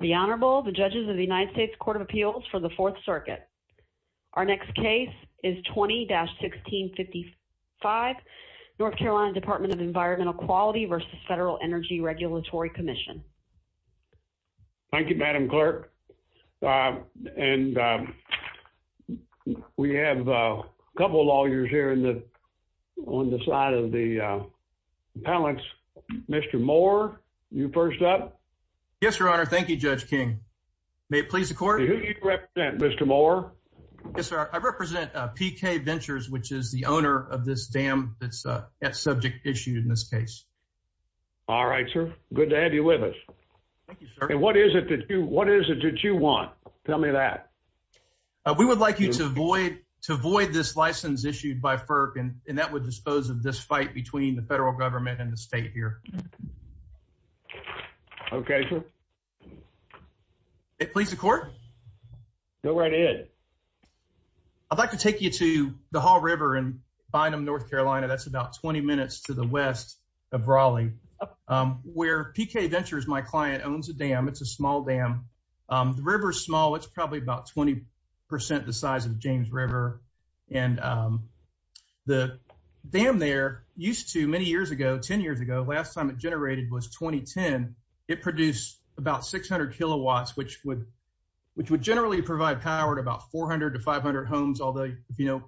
The Honorable, the judges of the United States Court of Appeals for the Fourth Circuit. Our next case is 20-1655, North Carolina Department of Environmental Quality versus Federal Energy Regulatory Commission. Thank you, Madam Clerk. And we have a couple of lawyers here in the on the side of the appellants. Mr. Moore, you first up? Yes, Your Honor. Thank you, Judge King. May it please the court? Who do you represent, Mr. Moore? Yes, sir. I represent PK Ventures, which is the owner of this dam that's at subject issue in this case. All right, sir. Good to have you with us. Thank you, sir. And what is it that you, what is it that you want? Tell me that. We would like you to avoid this license issued by FERC, and that would dispose of this fight between the federal government and the state here. Okay, sir. May it please the court? Go right ahead. I'd like to take you to the Hall River in Bynum, North Carolina. That's about 20 minutes to the west of Raleigh, where PK Ventures, my client, owns a dam. It's a small dam. The river small, it's probably about 20% the size of James River. And the dam there used to many years ago, 10 years ago, last time it generated was 2010. It produced about 600 kilowatts, which would generally provide power to about 400 to 500 homes, although if you know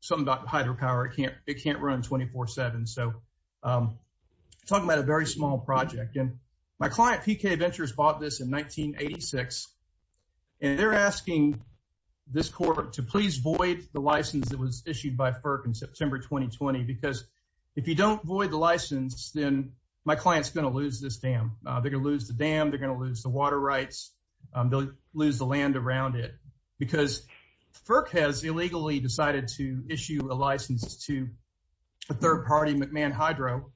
something about hydropower, it can't run 24-7. So I'm talking about a very small project. And my client, PK Ventures, bought this in 1986. And they're asking this court to please void the license that was issued by FERC in September 2020. Because if you don't void the license, then my client's going to lose this dam. They're going to lose the dam, they're going to lose the water rights, they'll lose the land around it. Because FERC has illegally decided to issue a license to a third party, McMahon Hydro.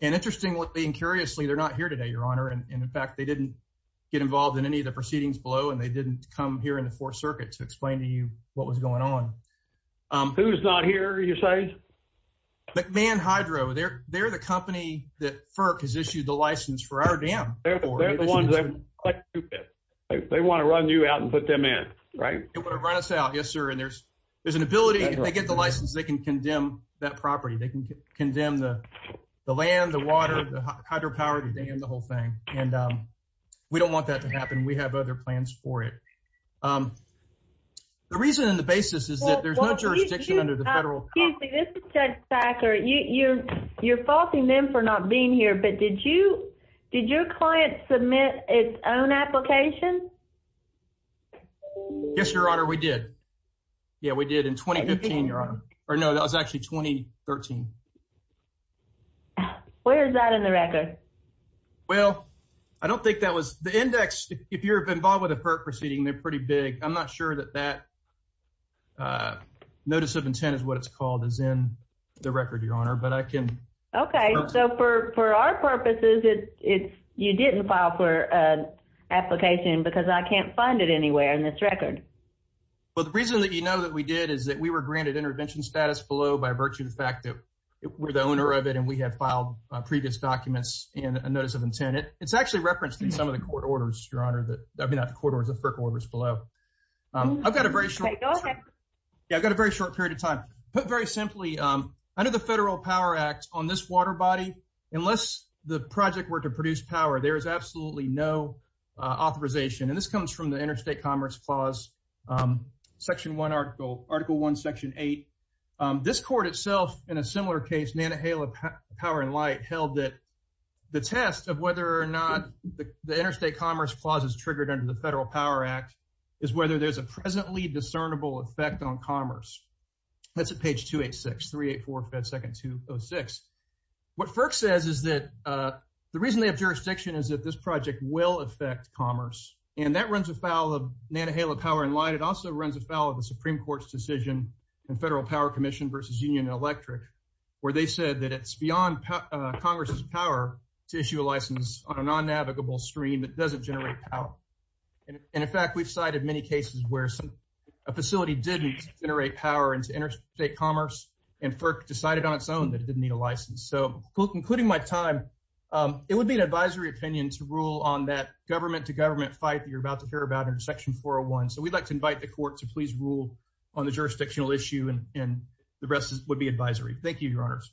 And interestingly and curiously, they're not here today, Your Honor. And in fact, they didn't get involved in any of the proceedings below and they didn't come here in the Fourth Circuit to explain to you what was going on. Who's not here, you say? McMahon Hydro. They're the company that FERC has issued the license for our dam. They're the ones that want to run you out and put them in, right? They want to run us out, yes, sir. And there's an ability, if they get the license, they can condemn that property. They can condemn the land, the water, the hydropower, the dam, the whole thing. And we don't want that to happen. We have other plans for it. The reason and the basis is that there's no jurisdiction under the federal... Excuse me, this is Judge Packer. You're faulting them for not being here, but did your client submit its own application? Yes, Your Honor, we did. Yeah, we did in 2015, Your Honor. Or no, it was actually 2013. Where is that in the record? Well, I don't think that was... The index, if you're involved with a FERC proceeding, they're pretty big. I'm not sure that that notice of intent is what it's called is in the record, Your Honor, but I can... Okay, so for our purposes, you didn't file for an application because I can't find it anywhere in this record. Well, the reason that you know that we did is that we were granted intervention status below by virtue of the fact that we're the owner of it and we have filed previous documents and a notice of intent. It's actually referenced in some of the court orders, Your Honor, that... I mean, not the court orders, the FERC orders below. I've got a very short... Yeah, I've got a very short period of time. Put very simply, under the Federal Power Act, on this water body, unless the project were to produce power, there is absolutely no authorization. And this comes from the Interstate Commerce Clause, Section 1, Article 1, Section 8. This court itself, in a similar case, Nana Hale of Power and Light, held that the test of whether or not the Interstate Commerce Clause is triggered under the Federal Power Act is whether there's a presently discernible effect on commerce. That's at page 286, 384, Fed Second 206. What FERC says is that the reason they have jurisdiction is that this project will affect commerce. And that runs afoul of Nana Hale of Power and Light. It also runs afoul of the Supreme Court's decision in Federal Power Commission versus Union Electric, where they said that it's beyond Congress's power to issue a license on a non-navigable stream that doesn't generate power. And in fact, we've cited many cases where a facility didn't generate power into interstate commerce and FERC decided on its own that it didn't need a license. So including my time, it would be an advisory opinion to rule on that government-to-government fight that you're about to hear about in Section 401. So we'd like to invite the court to please rule on the jurisdictional issue and the rest would be advisory. Thank you, Your Honors.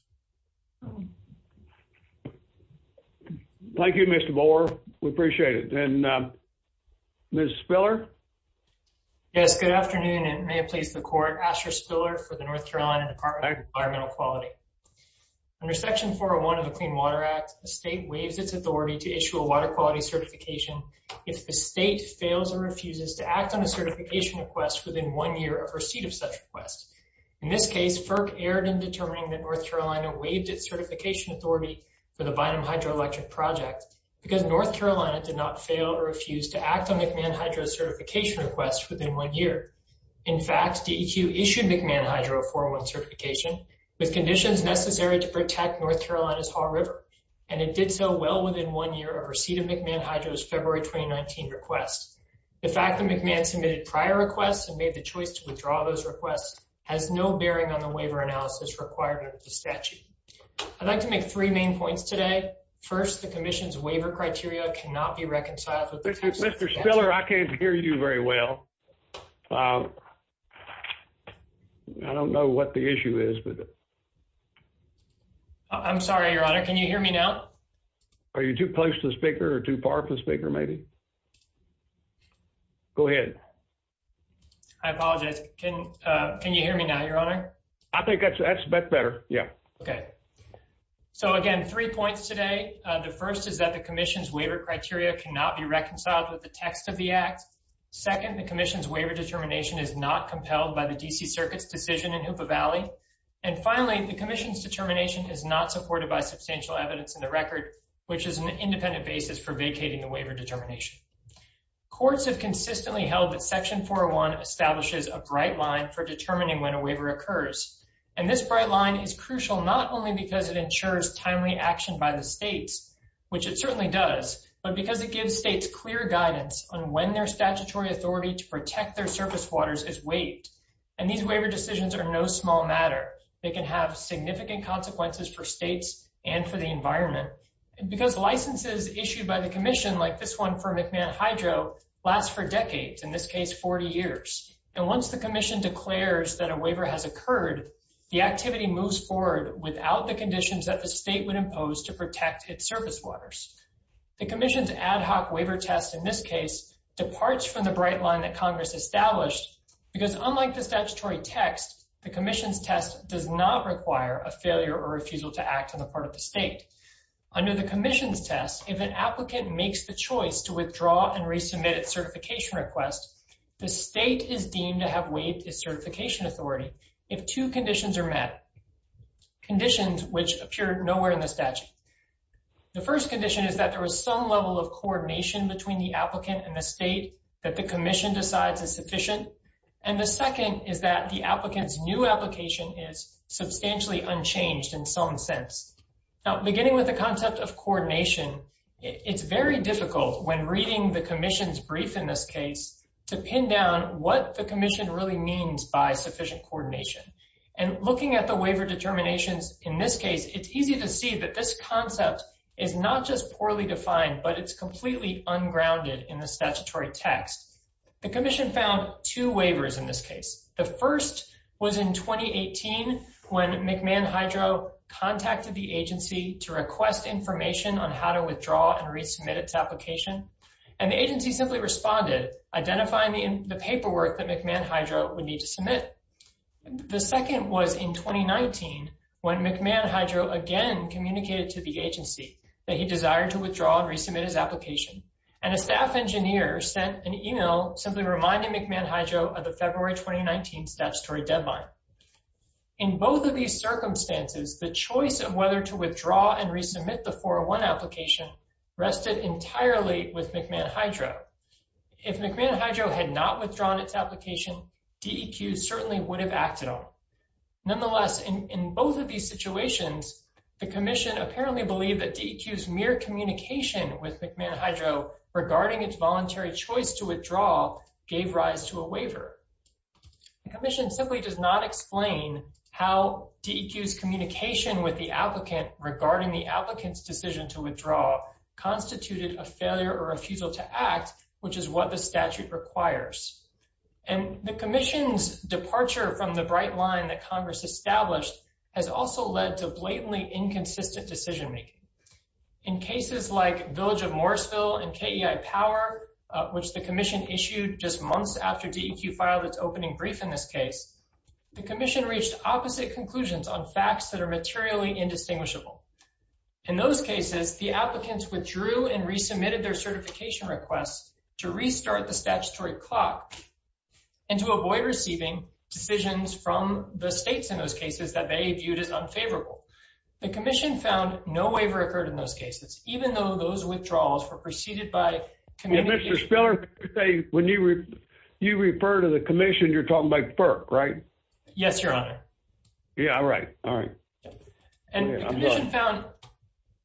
Thank you, Mr. Bohr. We appreciate it. And Ms. Spiller? Yes, good afternoon, and may it please the court. Asher Spiller for the North Carolina Department of Environmental Quality. Under Section 401 of the Clean Water Act, a state waives its authority to issue a water quality certification if the state fails or refuses to act on a certification request within one year of receipt of such request. In this case, FERC erred in determining that North Carolina waived its certification authority for the Bynum Hydroelectric Project because North Carolina did not fail or refuse to act on McMahon Hydro's certification request within one year. In fact, DEQ issued McMahon Hydro a 401 certification with conditions necessary to protect North Carolina's Haw River, and it did so well within one year of receipt of McMahon Hydro's February 2019 request. The fact that McMahon submitted prior requests and made the choice to withdraw those requests has no bearing on the waiver analysis requirement of the statute. I'd like to make three main points today. First, the commission's waiver criteria cannot be reconciled Mr. Spiller, I can't hear you very well. I don't know what the issue is. I'm sorry, your honor. Can you hear me now? Are you too close to the speaker or too far from the speaker, maybe? Go ahead. I apologize. Can you hear me now, your honor? I think that's better. Yeah. Okay. So again, three points today. The first is that the waiver is not reconciled with the text of the act. Second, the commission's waiver determination is not compelled by the DC Circuit's decision in Hoopa Valley. And finally, the commission's determination is not supported by substantial evidence in the record, which is an independent basis for vacating the waiver determination. Courts have consistently held that section 401 establishes a bright line for determining when a waiver occurs. And this bright line is crucial not only because it ensures timely action by the states, which it certainly does, but because it gives states clear guidance on when their statutory authority to protect their surface waters is waived. And these waiver decisions are no small matter. They can have significant consequences for states and for the environment. And because licenses issued by the commission, like this one for McMahon Hydro, last for decades, in this case, 40 years. And once the commission declares that a waiver has occurred, the activity moves forward without the conditions that the state would waiver test in this case departs from the bright line that Congress established, because unlike the statutory text, the commission's test does not require a failure or refusal to act on the part of the state. Under the commission's test, if an applicant makes the choice to withdraw and resubmit its certification request, the state is deemed to have waived its certification authority if two conditions are met. Conditions which appear nowhere in the statute. The first condition is that there was some level of coordination between the applicant and the state that the commission decides is sufficient. And the second is that the applicant's new application is substantially unchanged in some sense. Now, beginning with the concept of coordination, it's very difficult when reading the commission's brief in this case to pin down what the commission really means by sufficient coordination and looking at the waiver determinations. In this case, it's easy to see that this concept is not just poorly defined, but it's completely ungrounded in the statutory text. The commission found two waivers in this case. The first was in 2018 when McMahon Hydro contacted the agency to request information on how to withdraw and resubmit its application. And the agency simply responded, identifying the paperwork that McMahon Hydro would need to submit. The second was in 2019 when McMahon Hydro again communicated to the agency that he desired to withdraw and resubmit his application. And a staff engineer sent an email simply reminding McMahon Hydro of the February 2019 statutory deadline. In both of these circumstances, the choice of whether to withdraw and resubmit the 401 application rested entirely with McMahon would have acted on. Nonetheless, in both of these situations, the commission apparently believed that DEQ's mere communication with McMahon Hydro regarding its voluntary choice to withdraw gave rise to a waiver. The commission simply does not explain how DEQ's communication with the applicant regarding the applicant's decision to withdraw constituted a failure or failure. The departure from the bright line that Congress established has also led to blatantly inconsistent decision-making. In cases like Village of Morrisville and KEI Power, which the commission issued just months after DEQ filed its opening brief in this case, the commission reached opposite conclusions on facts that are materially indistinguishable. In those cases, the applicants withdrew and resubmitted their certification request to restart the statutory clock and to avoid receiving decisions from the states in those cases that they viewed as unfavorable. The commission found no waiver occurred in those cases, even though those withdrawals were preceded by communication... Mr. Spiller, when you refer to the commission, you're talking about FERC, right? Yes, Your Honor. Yeah, I'm right. All right. And the commission found...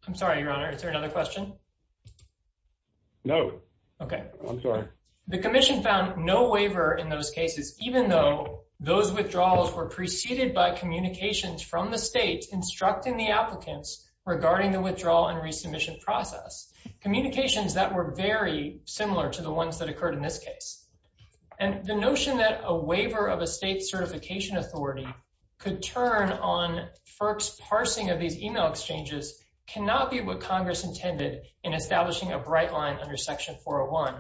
I'm sorry, Your Honor. Is there another question? No. Okay. I'm sorry. The commission found no waiver in those cases, even though those withdrawals were preceded by communications from the states instructing the applicants regarding the withdrawal and resubmission process, communications that were very similar to the ones that occurred in this case. And the notion that a waiver of a state certification authority could turn on FERC's in establishing a bright line under Section 401.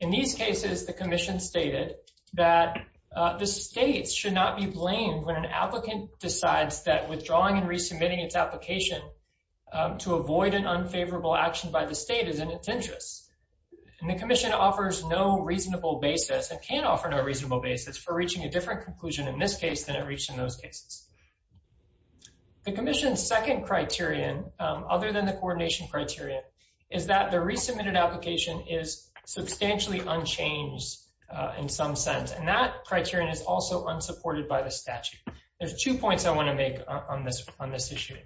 In these cases, the commission stated that the states should not be blamed when an applicant decides that withdrawing and resubmitting its application to avoid an unfavorable action by the state is in its interest. And the commission offers no reasonable basis and can offer no reasonable basis for reaching a different conclusion in this case than it reached in those cases. The commission's second criterion, other than the coordination criteria, is that the resubmitted application is substantially unchanged in some sense. And that criterion is also unsupported by the statute. There's two points I want to make on this issue.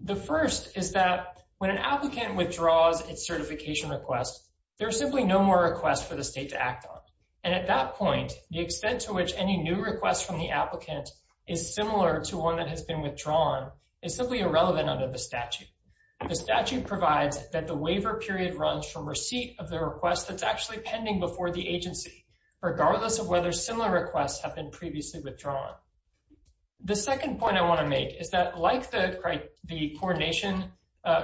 The first is that when an applicant withdraws its certification request, there's simply no more requests for the state to act on. And at that point, the extent to which any new requests from the applicant is similar to one that has been withdrawn is simply relevant under the statute. The statute provides that the waiver period runs from receipt of the request that's actually pending before the agency, regardless of whether similar requests have been previously withdrawn. The second point I want to make is that like the coordination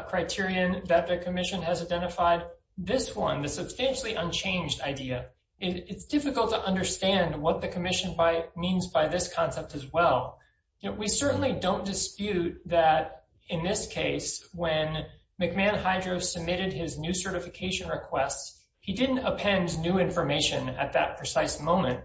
criterion that the commission has identified, this one, the substantially unchanged idea, it's difficult to understand what the commission means by this concept as well. We certainly don't dispute that in this case, when McMahon Hydro submitted his new certification requests, he didn't append new information at that precise moment.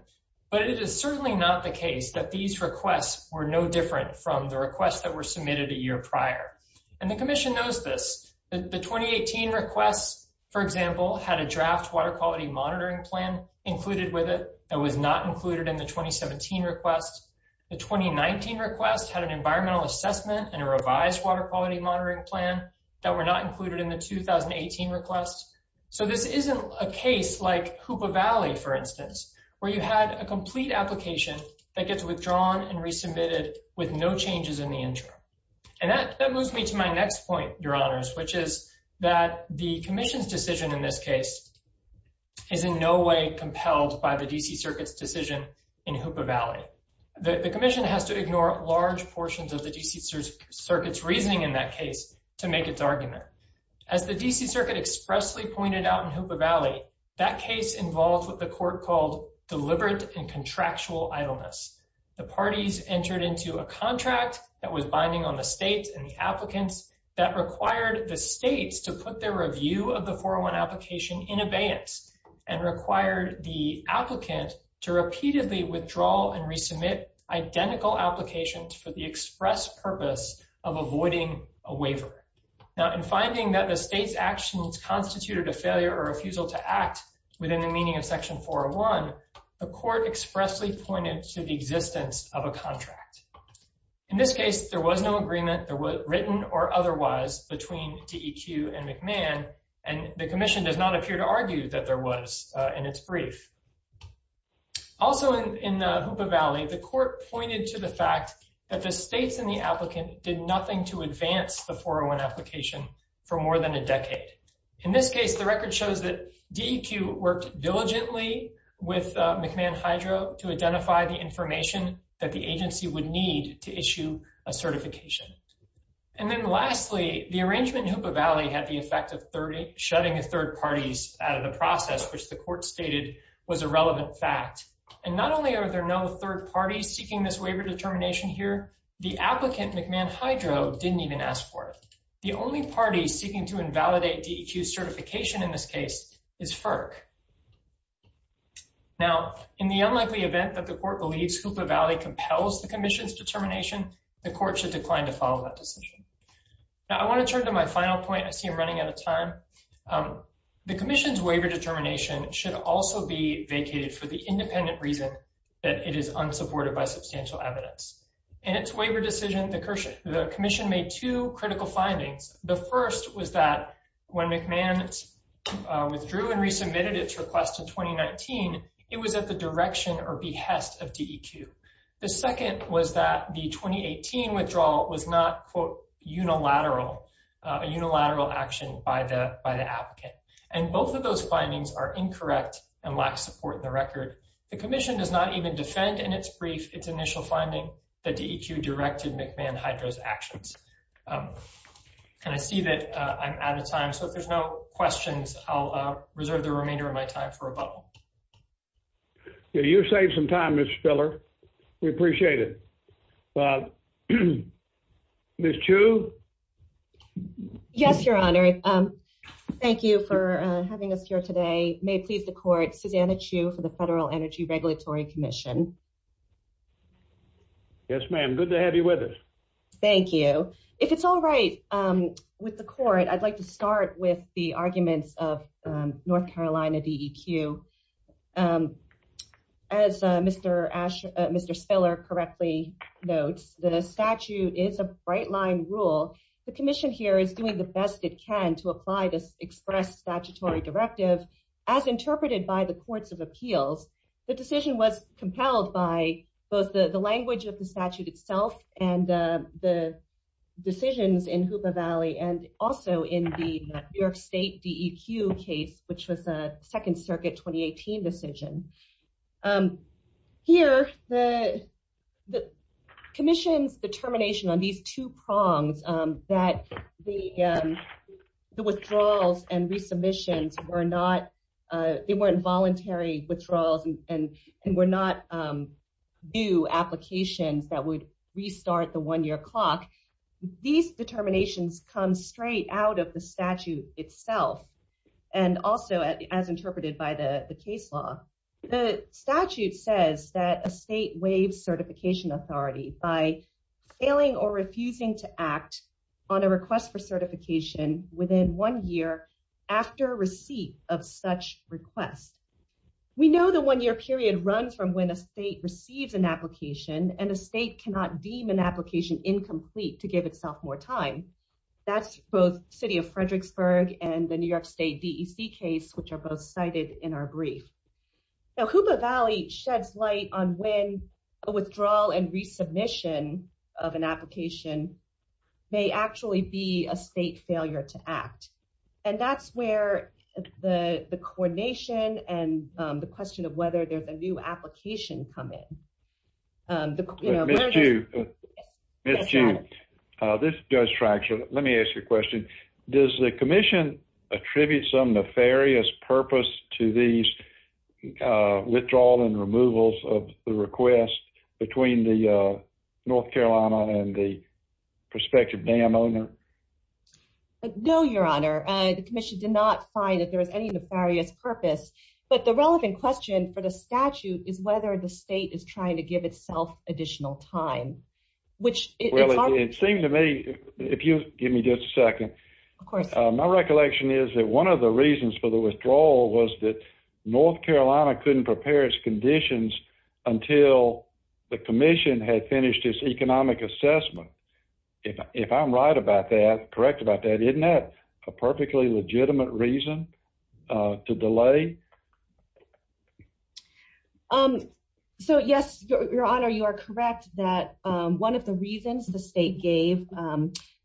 But it is certainly not the case that these requests were no different from the requests that were submitted a year prior. And the commission knows this. The 2018 requests, for example, had a draft water quality monitoring plan included with it that was not included in the 2017 requests. The 2019 requests had an environmental assessment and a revised water quality monitoring plan that were not included in the 2018 requests. So this isn't a case like Hoopa Valley, for instance, where you had a complete application that gets withdrawn and resubmitted with no changes in the interim. And that moves me to my next point, your honors, which is that the commission's decision in this case is in no way compelled by the D.C. Circuit's decision in Hoopa Valley. The commission has to ignore large portions of the D.C. Circuit's reasoning in that case to make its argument. As the D.C. Circuit expressly pointed out in Hoopa Valley, that case involved what the court called deliberate and contractual idleness. The parties entered into a contract that was binding on the and required the applicant to repeatedly withdraw and resubmit identical applications for the express purpose of avoiding a waiver. Now, in finding that the state's actions constituted a failure or refusal to act within the meaning of Section 401, the court expressly pointed to the existence of a contract. In this case, there was no agreement that was written or otherwise between D.E.Q. and McMahon, and the commission does not appear to argue that there was in its brief. Also in Hoopa Valley, the court pointed to the fact that the states and the applicant did nothing to advance the 401 application for more than a decade. In this case, the record shows that D.E.Q. worked diligently with McMahon Hydro to identify the information that the agency would need to arrangement in Hoopa Valley had the effect of shutting third parties out of the process, which the court stated was a relevant fact. And not only are there no third parties seeking this waiver determination here, the applicant, McMahon Hydro, didn't even ask for it. The only party seeking to invalidate D.E.Q.'s certification in this case is FERC. Now, in the unlikely event that the court believes Hoopa Valley compels the commission's Now, I want to turn to my final point. I see I'm running out of time. The commission's waiver determination should also be vacated for the independent reason that it is unsupported by substantial evidence. In its waiver decision, the commission made two critical findings. The first was that when McMahon withdrew and resubmitted its request in 2019, it was at the direction or behest of D.E.Q. The second was that the 2018 withdrawal was not unilateral, a unilateral action by the applicant. And both of those findings are incorrect and lack support in the record. The commission does not even defend in its brief its initial finding that D.E.Q. directed McMahon Hydro's actions. And I see that I'm out of time, so if there's no questions, I'll reserve the remainder of my time for a bubble. Yeah, you saved some time, Ms. Spiller. We appreciate it. Ms. Chu? Yes, Your Honor. Thank you for having us here today. May it please the court, Susanna Chu for the Federal Energy Regulatory Commission. Yes, ma'am. Good to have you with us. Thank you. If it's all right with the court, I'd like to start with the arguments of North Carolina D.E.Q. As Mr. Spiller correctly notes, the statute is a bright line rule. The commission here is doing the best it can to apply this express statutory directive. As interpreted by the courts of appeals, the decision was compelled by both the language of the statute itself and the decisions in Hoopa Valley and also in the New York State D.E.Q. case, which was a Second Circuit 2018 decision. Here, the commission's determination on these two prongs that the withdrawals and resubmissions were not, they weren't voluntary withdrawals and were not new applications that would restart the one-year clock. These determinations come straight out of the statute itself and also as interpreted by the case law. The statute says that a state waives certification authority by failing or refusing to act on a request for certification within one year after receipt of such request. We know the one-year period runs from when a state receives an application and a state cannot deem an application incomplete to give itself more time. That's both City of Fredericksburg and the New York State D.E.C. case, which are both cited in our brief. Now, Hoopa Valley sheds light on when a withdrawal and resubmission of an application may actually be a state failure to act. And that's where the coordination and the question of whether there's a new application come in. Ms. June, this does fracture. Let me ask you a question. Does the commission attribute some nefarious purpose to these withdrawals and removals of the request between the North Carolina and the prospective dam owner? No, Your Honor. The commission did not find that there was any for the statute is whether the state is trying to give itself additional time, which it seemed to me if you give me just a second. Of course, my recollection is that one of the reasons for the withdrawal was that North Carolina couldn't prepare its conditions until the commission had finished its economic assessment. If I'm right about that, correct about that, isn't that a perfectly legitimate reason to delay? So, yes, Your Honor, you are correct that one of the reasons the state gave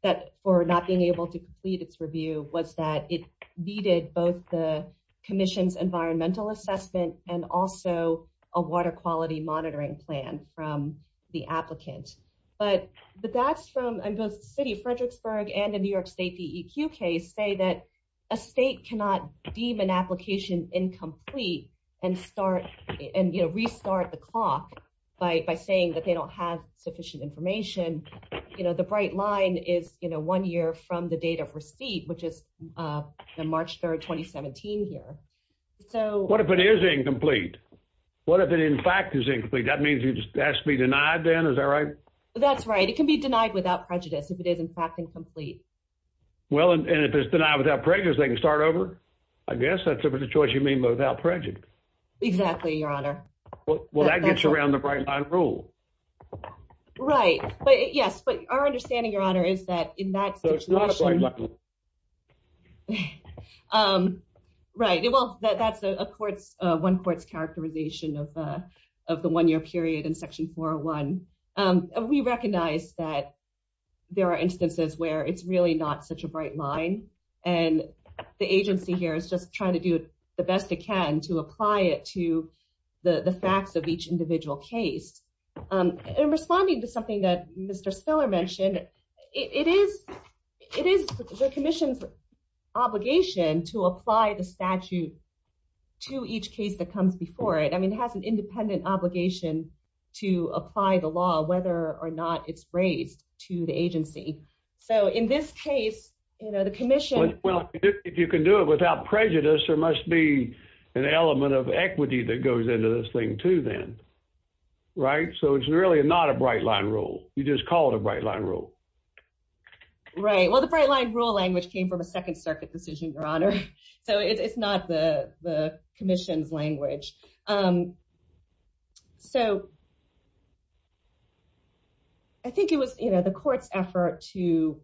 that for not being able to complete its review was that it needed both the commission's environmental assessment and also a water quality monitoring plan from the applicant. But that's from the city of say that a state cannot deem an application incomplete and restart the clock by saying that they don't have sufficient information. The bright line is one year from the date of receipt, which is March 3rd, 2017 here. What if it is incomplete? What if it in fact is incomplete? That means it has to be denied then, is that right? That's right. It can be denied without prejudice if it is in fact incomplete. Well, and if it's denied without prejudice, they can start over, I guess. That's a choice you made without prejudice. Exactly, Your Honor. Well, that gets around the bright line rule. Right. But yes, but our understanding, Your Honor, is that in that situation. Right. Well, that's a court's one court's characterization of the one year period in Section 401. We recognize that there are instances where it's really not such a bright line. And the agency here is just trying to do the best it can to apply it to the facts of each individual case. And responding to something that Mr. Spiller mentioned, it is the commission's obligation to apply the statute to each case that comes before it. I mean, it has an independent obligation to apply the law, whether or not it's raised to the agency. So in this case, you know, the commission. Well, if you can do it without prejudice, there must be an element of equity that goes into this thing, too, then. Right. So it's really not a bright line rule. You just call it a bright line rule. Right. Well, the bright line rule language came from a Second Circuit decision, Your Honor. So it's not the commission's language. So I think it was, you know, the court's effort to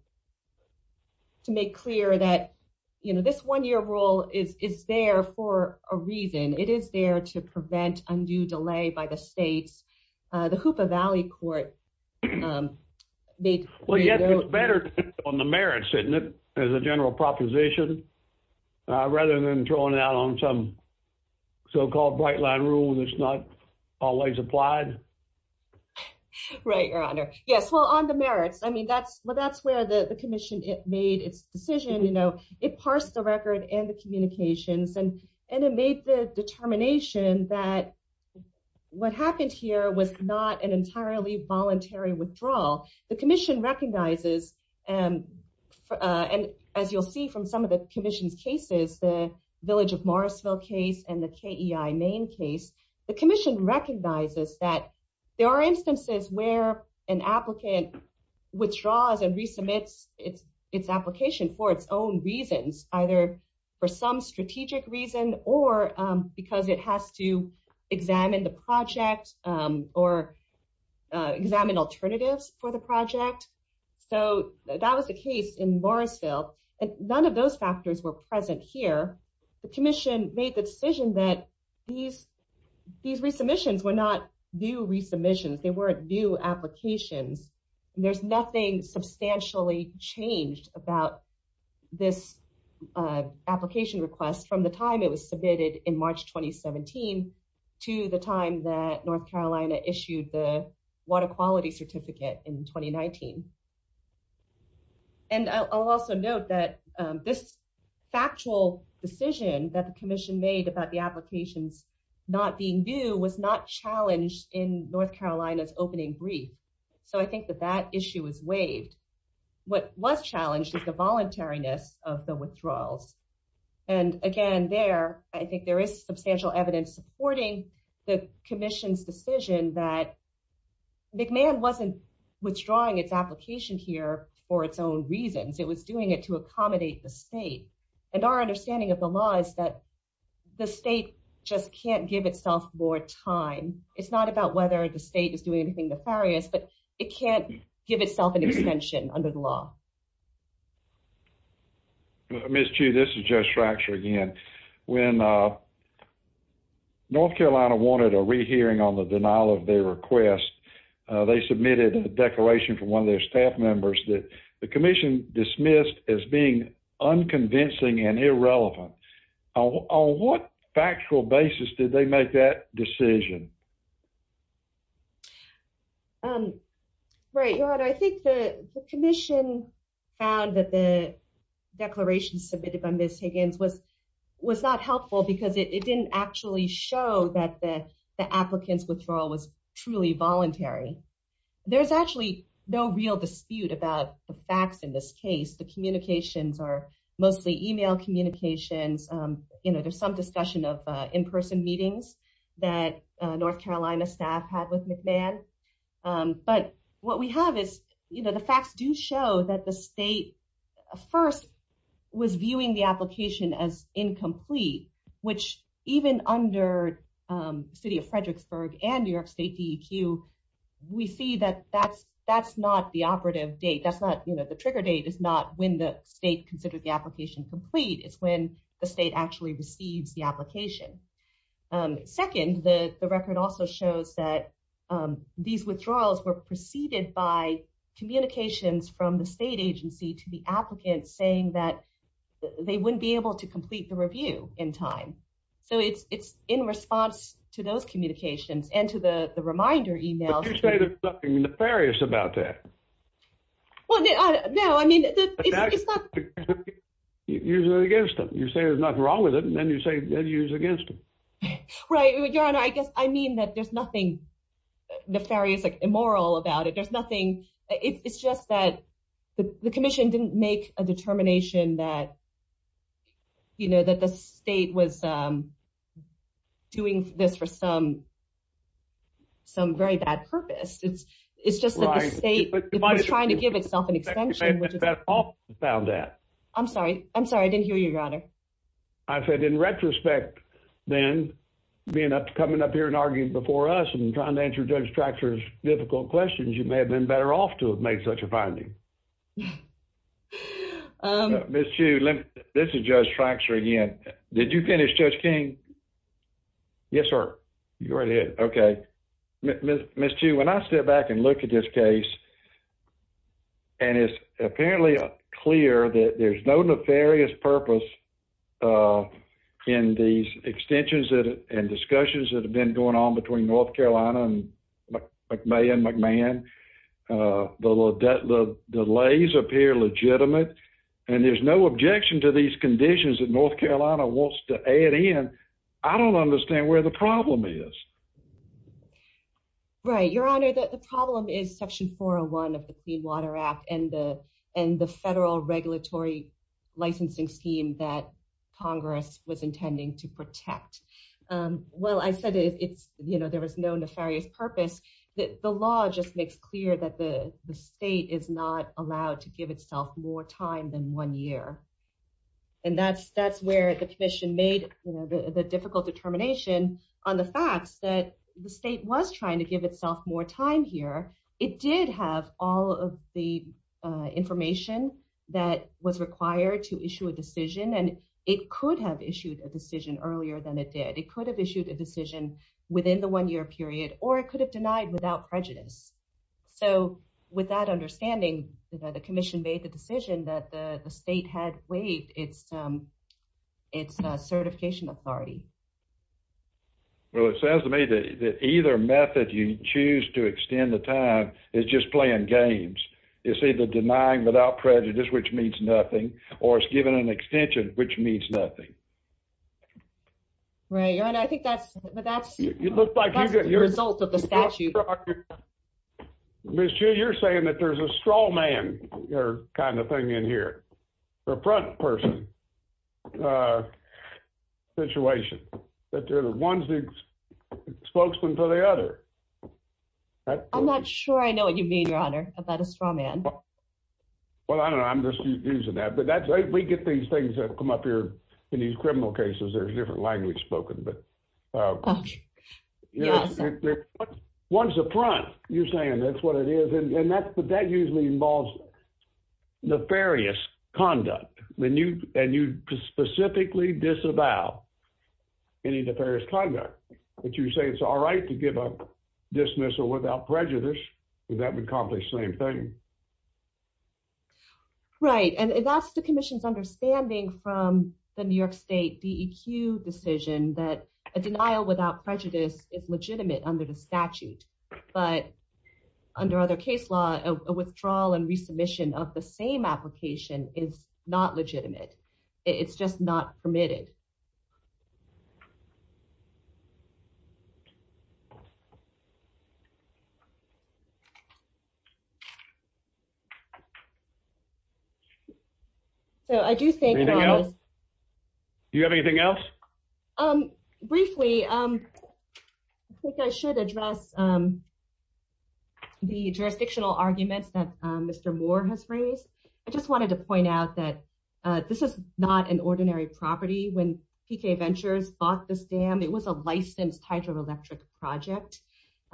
make clear that, you know, this one year rule is there for a reason. It is there to prevent undue delay by the states. The Hoopa Valley Court made clear that. It's better on the merits, isn't it, as a general proposition, rather than throwing it out on some so-called bright line rule that's not always applied. Right, Your Honor. Yes. Well, on the merits, I mean, that's where the commission made its decision. You know, it parsed the record and the communications and it made the determination that what happened here was not an entirely voluntary withdrawal. The commission recognizes, and as you'll see from some of the commission's cases, the Village of Morrisville case and the KEI Maine case, the commission recognizes that there are instances where an applicant withdraws and resubmits its application for its own reasons, either for some strategic reason or because it has to examine the project or examine alternatives for the project. So that was the case in Morrisville, and none of those factors were present here. The commission made the decision that these resubmissions were not new resubmissions. They weren't new applications. There's nothing substantially changed about this application request from the time it was submitted in March 2017 to the time that North Carolina issued the water quality certificate in 2019. And I'll also note that this factual decision that the commission made about the applications not being new was not challenged in North Carolina's opening brief. So I think that that issue is waived. What was challenged is the voluntariness of the withdrawals. And again, there, I think there is substantial evidence supporting the commission's decision that McMahon wasn't withdrawing its application here for its own reasons. It was doing it to accommodate the state. And our understanding of the law is that the state just can't give itself more time. It's not about whether the state is doing anything nefarious, but it can't give itself an extension under the law. Ms. Chu, this is Judge Fracture again. When North Carolina wanted a rehearing on the denial of their request, they submitted a declaration from one of their staff members that the commission dismissed as being unconvincing and irrelevant. On what factual basis did they make that decision? Right, Your Honor. I think the commission found that the declaration submitted by Ms. Higgins was not helpful because it didn't actually show that the applicant's withdrawal was truly voluntary. There's actually no real dispute about the facts in this case. The communications are mostly email communications. There's some discussion of in-person meetings that North Carolina staff had with McMahon. But what we have is the facts do show that the state first was viewing the application as incomplete, which even under the City of Fredericksburg and New York State DEQ, we see that that's not the operative date. The trigger date is not when the state considered the application complete. It's when the state actually receives the application. Second, the record also shows that these withdrawals were preceded by communications from the state agency to the applicant saying that they wouldn't be able to complete the review in time. So it's in response to those communications and to the reminder emails. But you say there's nothing nefarious about that. Well, no, I mean, it's not. You're against them. You say there's nothing wrong with it, and then you say that you're against them. Right. Your Honor, I guess I mean that there's nothing nefarious, immoral about it. It's just that the commission didn't make a determination that the state was doing this for some very bad purpose. It's just that the state was trying to give itself an extension. I'm sorry. I'm sorry. I didn't hear you, Your Honor. I said in retrospect, then, coming up here and arguing before us and trying to answer Judge Traxler's difficult questions, you may have been better off to have made such a finding. Ms. Chu, this is Judge Traxler again. Did you finish, Judge King? Yes, sir. You're right ahead. Okay. Ms. Chu, when I step back and look at this case, and it's apparently clear that there's no nefarious purpose in these extensions and discussions that have been going on between North Carolina and McMahon, the delays appear legitimate, and there's no objection to these conditions that North Carolina wants to add in. I don't understand where the problem is. Right. Your Honor, the problem is Section 4 of the Clean Water Act and the federal regulatory licensing scheme that Congress was intending to protect. Well, I said there was no nefarious purpose. The law just makes clear that the state is not allowed to give itself more time than one year. That's where the commission made the difficult determination on the facts that the state was trying to give itself more time here. It did have all of the information that was required to issue a decision, and it could have issued a decision earlier than it did. It could have issued a decision within the one-year period, or it could have denied without prejudice. So, with that understanding, the commission made the decision that the state had waived its certification authority. Well, it sounds to me that either method you choose to extend the time is just playing games. It's either denying without prejudice, which means nothing, or it's giving an extension, which means nothing. Right. Your Honor, I think that's the result of the statute. Ms. Chiu, you're saying that there's a straw man kind of thing in here, a front person situation, that they're the ones that spokesman for the other. I'm not sure I know what you mean, Your Honor, about a straw man. Well, I don't know. I'm just using that, but we get these things that come up here in these criminal cases. There's different language spoken, but one's a front. You're saying that's what it is, and that usually involves nefarious conduct, and you specifically disavow any nefarious conduct. But you say it's all right to give a dismissal without prejudice. That would accomplish the same thing. Right, and that's the commission's understanding from the New York State DEQ decision that a denial without prejudice is legitimate under the statute, but under other case law, a withdrawal and dismissal is not legitimate. It's just not permitted. So I do think that... Anything else? Do you have anything else? Briefly, I think I should address the jurisdictional arguments that Mr. Moore has raised. I just wanted to point out that this is not an ordinary property. When Pre-K Ventures bought this dam, it was a licensed hydroelectric project.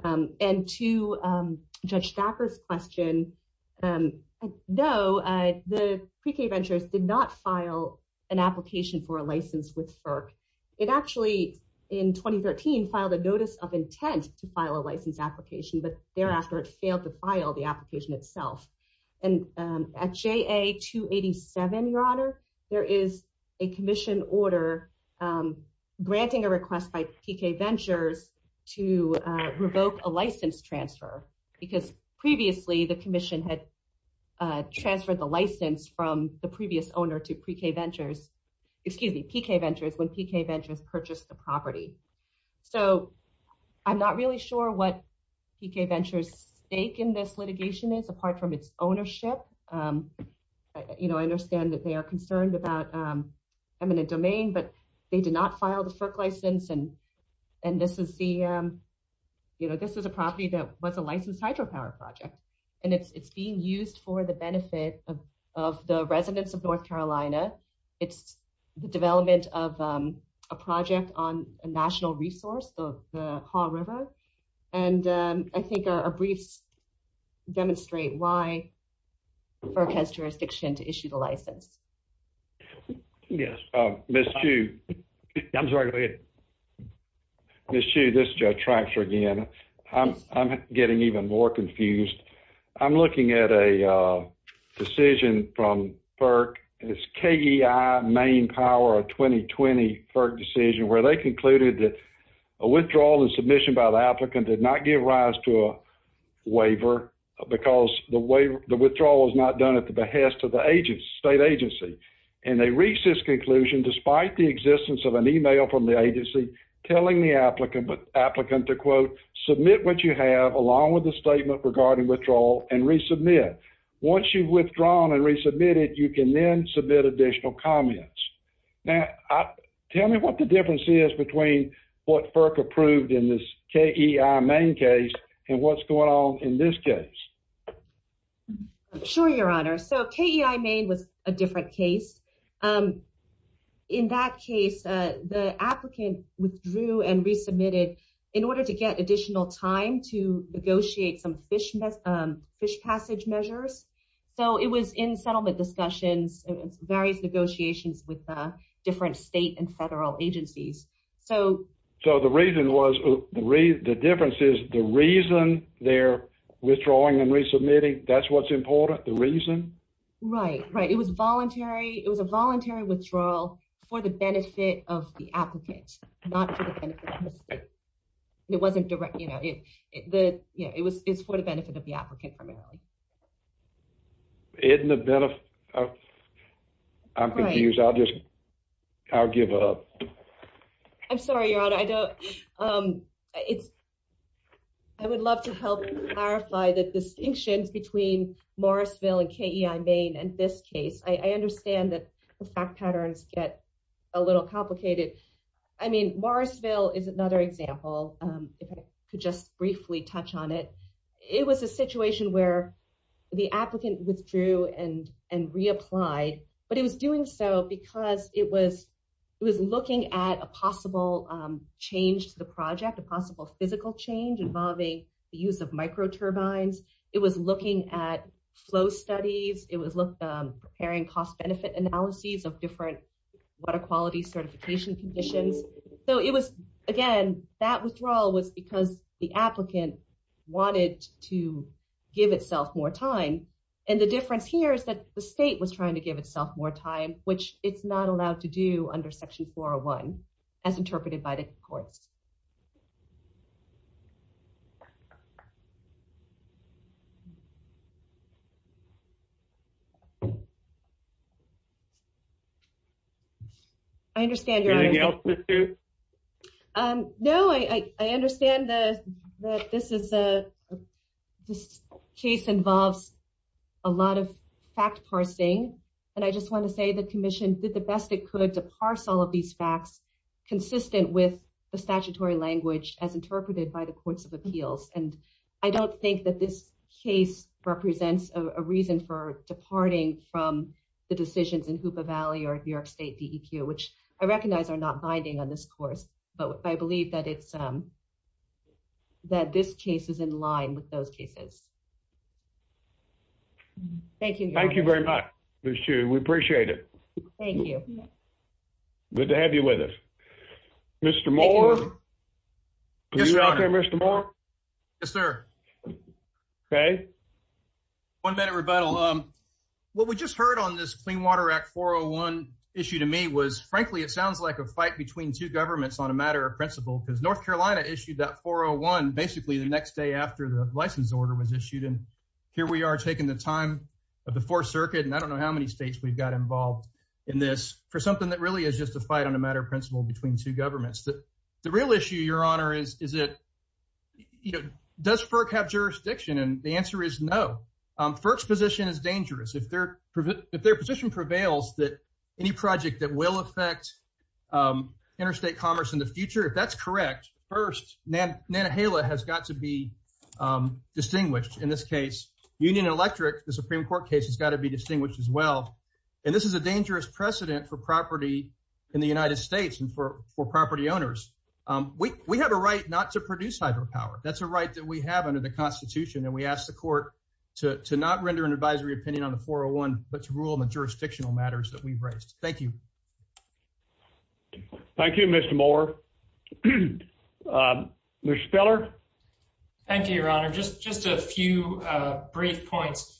And to Judge Stacker's question, no, the Pre-K Ventures did not file an application for a license with FERC. It actually, in 2013, filed a notice of intent to file a license application, but thereafter it failed to file the application itself. And at JA-287, Your Honor, there is a commission order granting a request by Pre-K Ventures to revoke a license transfer, because previously the commission had transferred the license from the previous owner to Pre-K Ventures, excuse me, Pre-K Ventures, when Pre-K Ventures purchased the property. So I'm not really sure what Pre-K Ventures' stake in this litigation is, apart from its ownership. You know, I understand that they are concerned about eminent domain, but they did not file the FERC license. And this is a property that was a licensed hydropower project. And it's being used for the benefit of the residents of North Carolina. It's the development of a project on a national resource, the Haw River. And I think our briefs demonstrate why FERC has jurisdiction to issue the license. Yes, Ms. Hsu. I'm sorry, go ahead. Ms. Hsu, this is Judge Traxler again. I'm getting even more confused. I'm looking at a decision from FERC. It's KEI Maine Power of 2020, FERC decision, where they concluded that a withdrawal and submission by the applicant did not give rise to a waiver, because the withdrawal was not done at the behest of the state agency. And they reached this conclusion despite the existence of an email from the agency telling the applicant to, quote, submit what you have along with the statement regarding withdrawal and resubmit. Once you've withdrawn and resubmitted, you can then submit additional comments. Now, tell me what the difference is between what FERC approved in this KEI Maine case and what's going on in this case. Sure, Your Honor. So, KEI Maine was a different case. In that case, the applicant withdrew and fish passage measures. So, it was in settlement discussions, various negotiations with different state and federal agencies. So, the reason was, the difference is, the reason they're withdrawing and resubmitting, that's what's important? The reason? Right, right. It was voluntary. It was a voluntary withdrawal for the benefit of the applicant, not for the benefit of the state. It wasn't direct, you know, it was for the benefit of the applicant primarily. Isn't the benefit, I'm confused. I'll just, I'll give up. I'm sorry, Your Honor. I don't, it's, I would love to help clarify the distinctions between Morrisville and KEI Maine and this case. I understand that the fact patterns get a little complicated. I mean, Morrisville is another example, if I could just briefly touch on it. It was a situation where the applicant withdrew and reapplied, but it was doing so because it was, it was looking at a possible change to the project, a possible physical change involving the use of micro turbines. It was looking at flow studies. It was preparing cost benefit analyses of different water quality certification conditions. So it was, again, that withdrawal was because the applicant wanted to give itself more time. And the difference here is that the state was trying to give itself more time, which it's not allowed to do under Section 401, as interpreted by the courts. I understand, Your Honor. Anything else, Mr. No, I understand that this is a, this case involves a lot of fact parsing. And I just want to say the commission did the best it could to parse all of these facts consistent with the statutory language as interpreted by the courts of appeals. And I don't think that this case represents a reason for departing from the decisions in Hoopa Valley or New York State DEQ, which I recognize are not binding on this course, but I believe that it's, that this case is in line with those cases. Thank you. Thank you very much, Ms. Chu. We appreciate it. Thank you. Good to have you with us. Mr. Moore? Yes, Your Honor. Are you out there, Mr. Moore? Yes, sir. Okay. One minute rebuttal. What we just heard on this Clean Water Act 401 issue to me was, frankly, it sounds like a fight between two governments on a matter of principle, because North Carolina issued that 401 basically the next day after the license order was issued. And here we are taking the time of the Fourth Circuit, and I don't know how many states we've got involved in this for something that really is just a fight on a matter of principle between two governments. The real issue, Your Honor, is it, you know, does FERC have jurisdiction? And the answer is no. FERC's position is dangerous. If their position prevails that any project that will affect interstate commerce in the future, if that's correct, first, Nantahala has got to be distinguished. In this case, Union Electric, the Supreme Court case, has got to be distinguished as well. And this is a dangerous precedent for property in the United States and for property owners. We have a right not to produce hydropower. That's a right that we have under the Constitution, and we ask the Court to not render an advisory opinion on the 401 but to rule on the jurisdictional matters that we've raised. Thank you. Thank you, Mr. Moore. Ms. Speller? Thank you, Your Honor. Just a few brief points.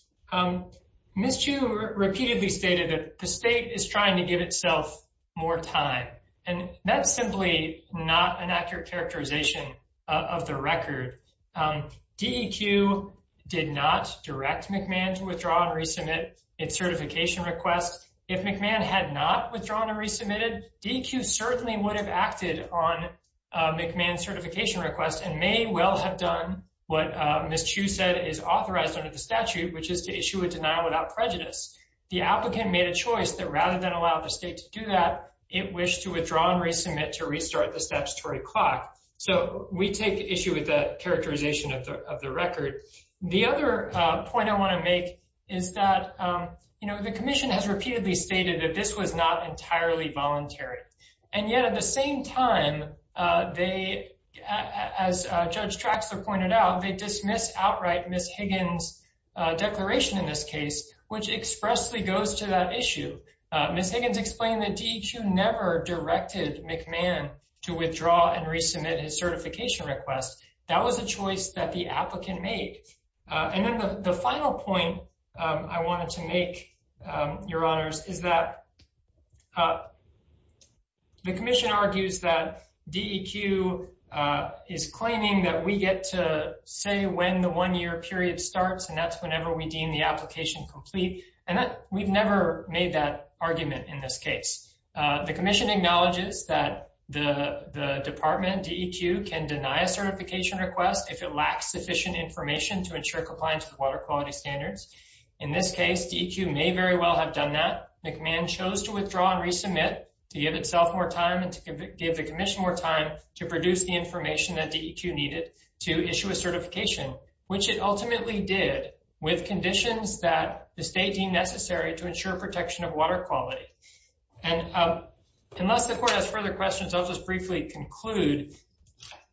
Ms. Chiu repeatedly stated that the state is trying to give itself more time, and that's simply not an accurate characterization of the record. DEQ did not direct McMahon to withdraw and resubmit its certification request. If McMahon had not withdrawn and resubmitted, DEQ certainly would have acted on the request. McMahon's certification request may well have done what Ms. Chiu said is authorized under the statute, which is to issue a denial without prejudice. The applicant made a choice that rather than allow the state to do that, it wished to withdraw and resubmit to restart the statutory clock. So we take issue with the characterization of the record. The other point I want to make is that the Commission has repeatedly stated that this was not entirely voluntary. And yet, at the same time, as Judge Traxler pointed out, they dismissed outright Ms. Higgins' declaration in this case, which expressly goes to that issue. Ms. Higgins explained that DEQ never directed McMahon to withdraw and resubmit his certification request. That was a choice that applicant made. The final point I wanted to make, Your Honors, is that the Commission argues that DEQ is claiming that we get to say when the one-year period starts, and that's whenever we deem the application complete. We have never made that argument in this case. The Commission acknowledges that the Department, DEQ, can deny a certification request if it lacks sufficient information to ensure compliance with water quality standards. In this case, DEQ may very well have done that. McMahon chose to withdraw and resubmit to give itself more time and to give the Commission more time to produce the information that DEQ needed to issue a certification, which it ultimately did with conditions that the state deemed necessary to ensure protection of water quality. And unless the Court has further questions, I'll just briefly conclude.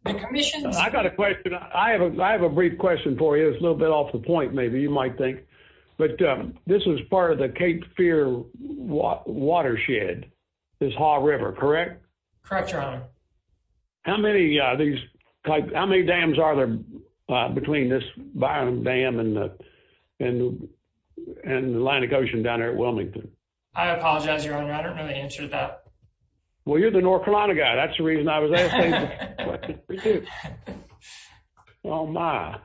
The Commission... I got a question. I have a brief question for you. It's a little bit off the point, maybe, you might think. But this is part of the Cape Fear Watershed, this Haw River, correct? Correct, Your Honor. How many dams are there between this Byron Dam and the Atlantic Ocean down there at Wilmington? I apologize, Your Honor. I don't know the answer to that. Well, you're the North Carolina guy. That's the reason I was asking. Oh, my.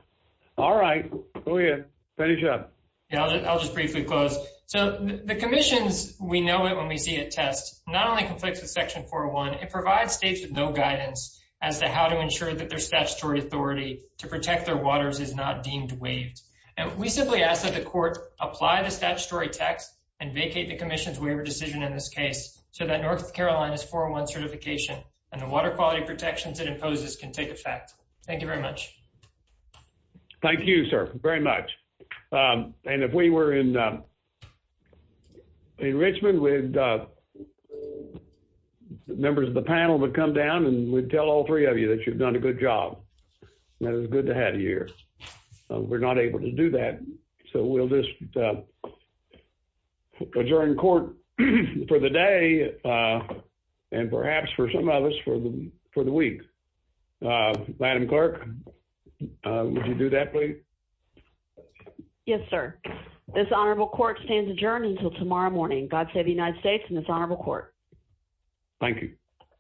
All right. Go ahead. Finish up. Yeah, I'll just briefly close. So the Commission's we-know-it-when-we-see-it test not only conflicts with Section 401, it provides states with no guidance as to how to ensure that their statutory authority to protect their waters is not deemed waived. And we simply ask that the Court apply the statutory text and vacate the Commission's decision in this case so that North Carolina's 401 certification and the water quality protections it imposes can take effect. Thank you very much. Thank you, sir, very much. And if we were in Richmond, members of the panel would come down and we'd tell all three of you that you've done a good job. That is good to have you here. We're not able to do that. So we'll just adjourn court for the day and perhaps, for some of us, for the week. Madam Clerk, would you do that, please? Yes, sir. This Honorable Court stands adjourned until tomorrow morning. God save the United States and this Honorable Court. Thank you.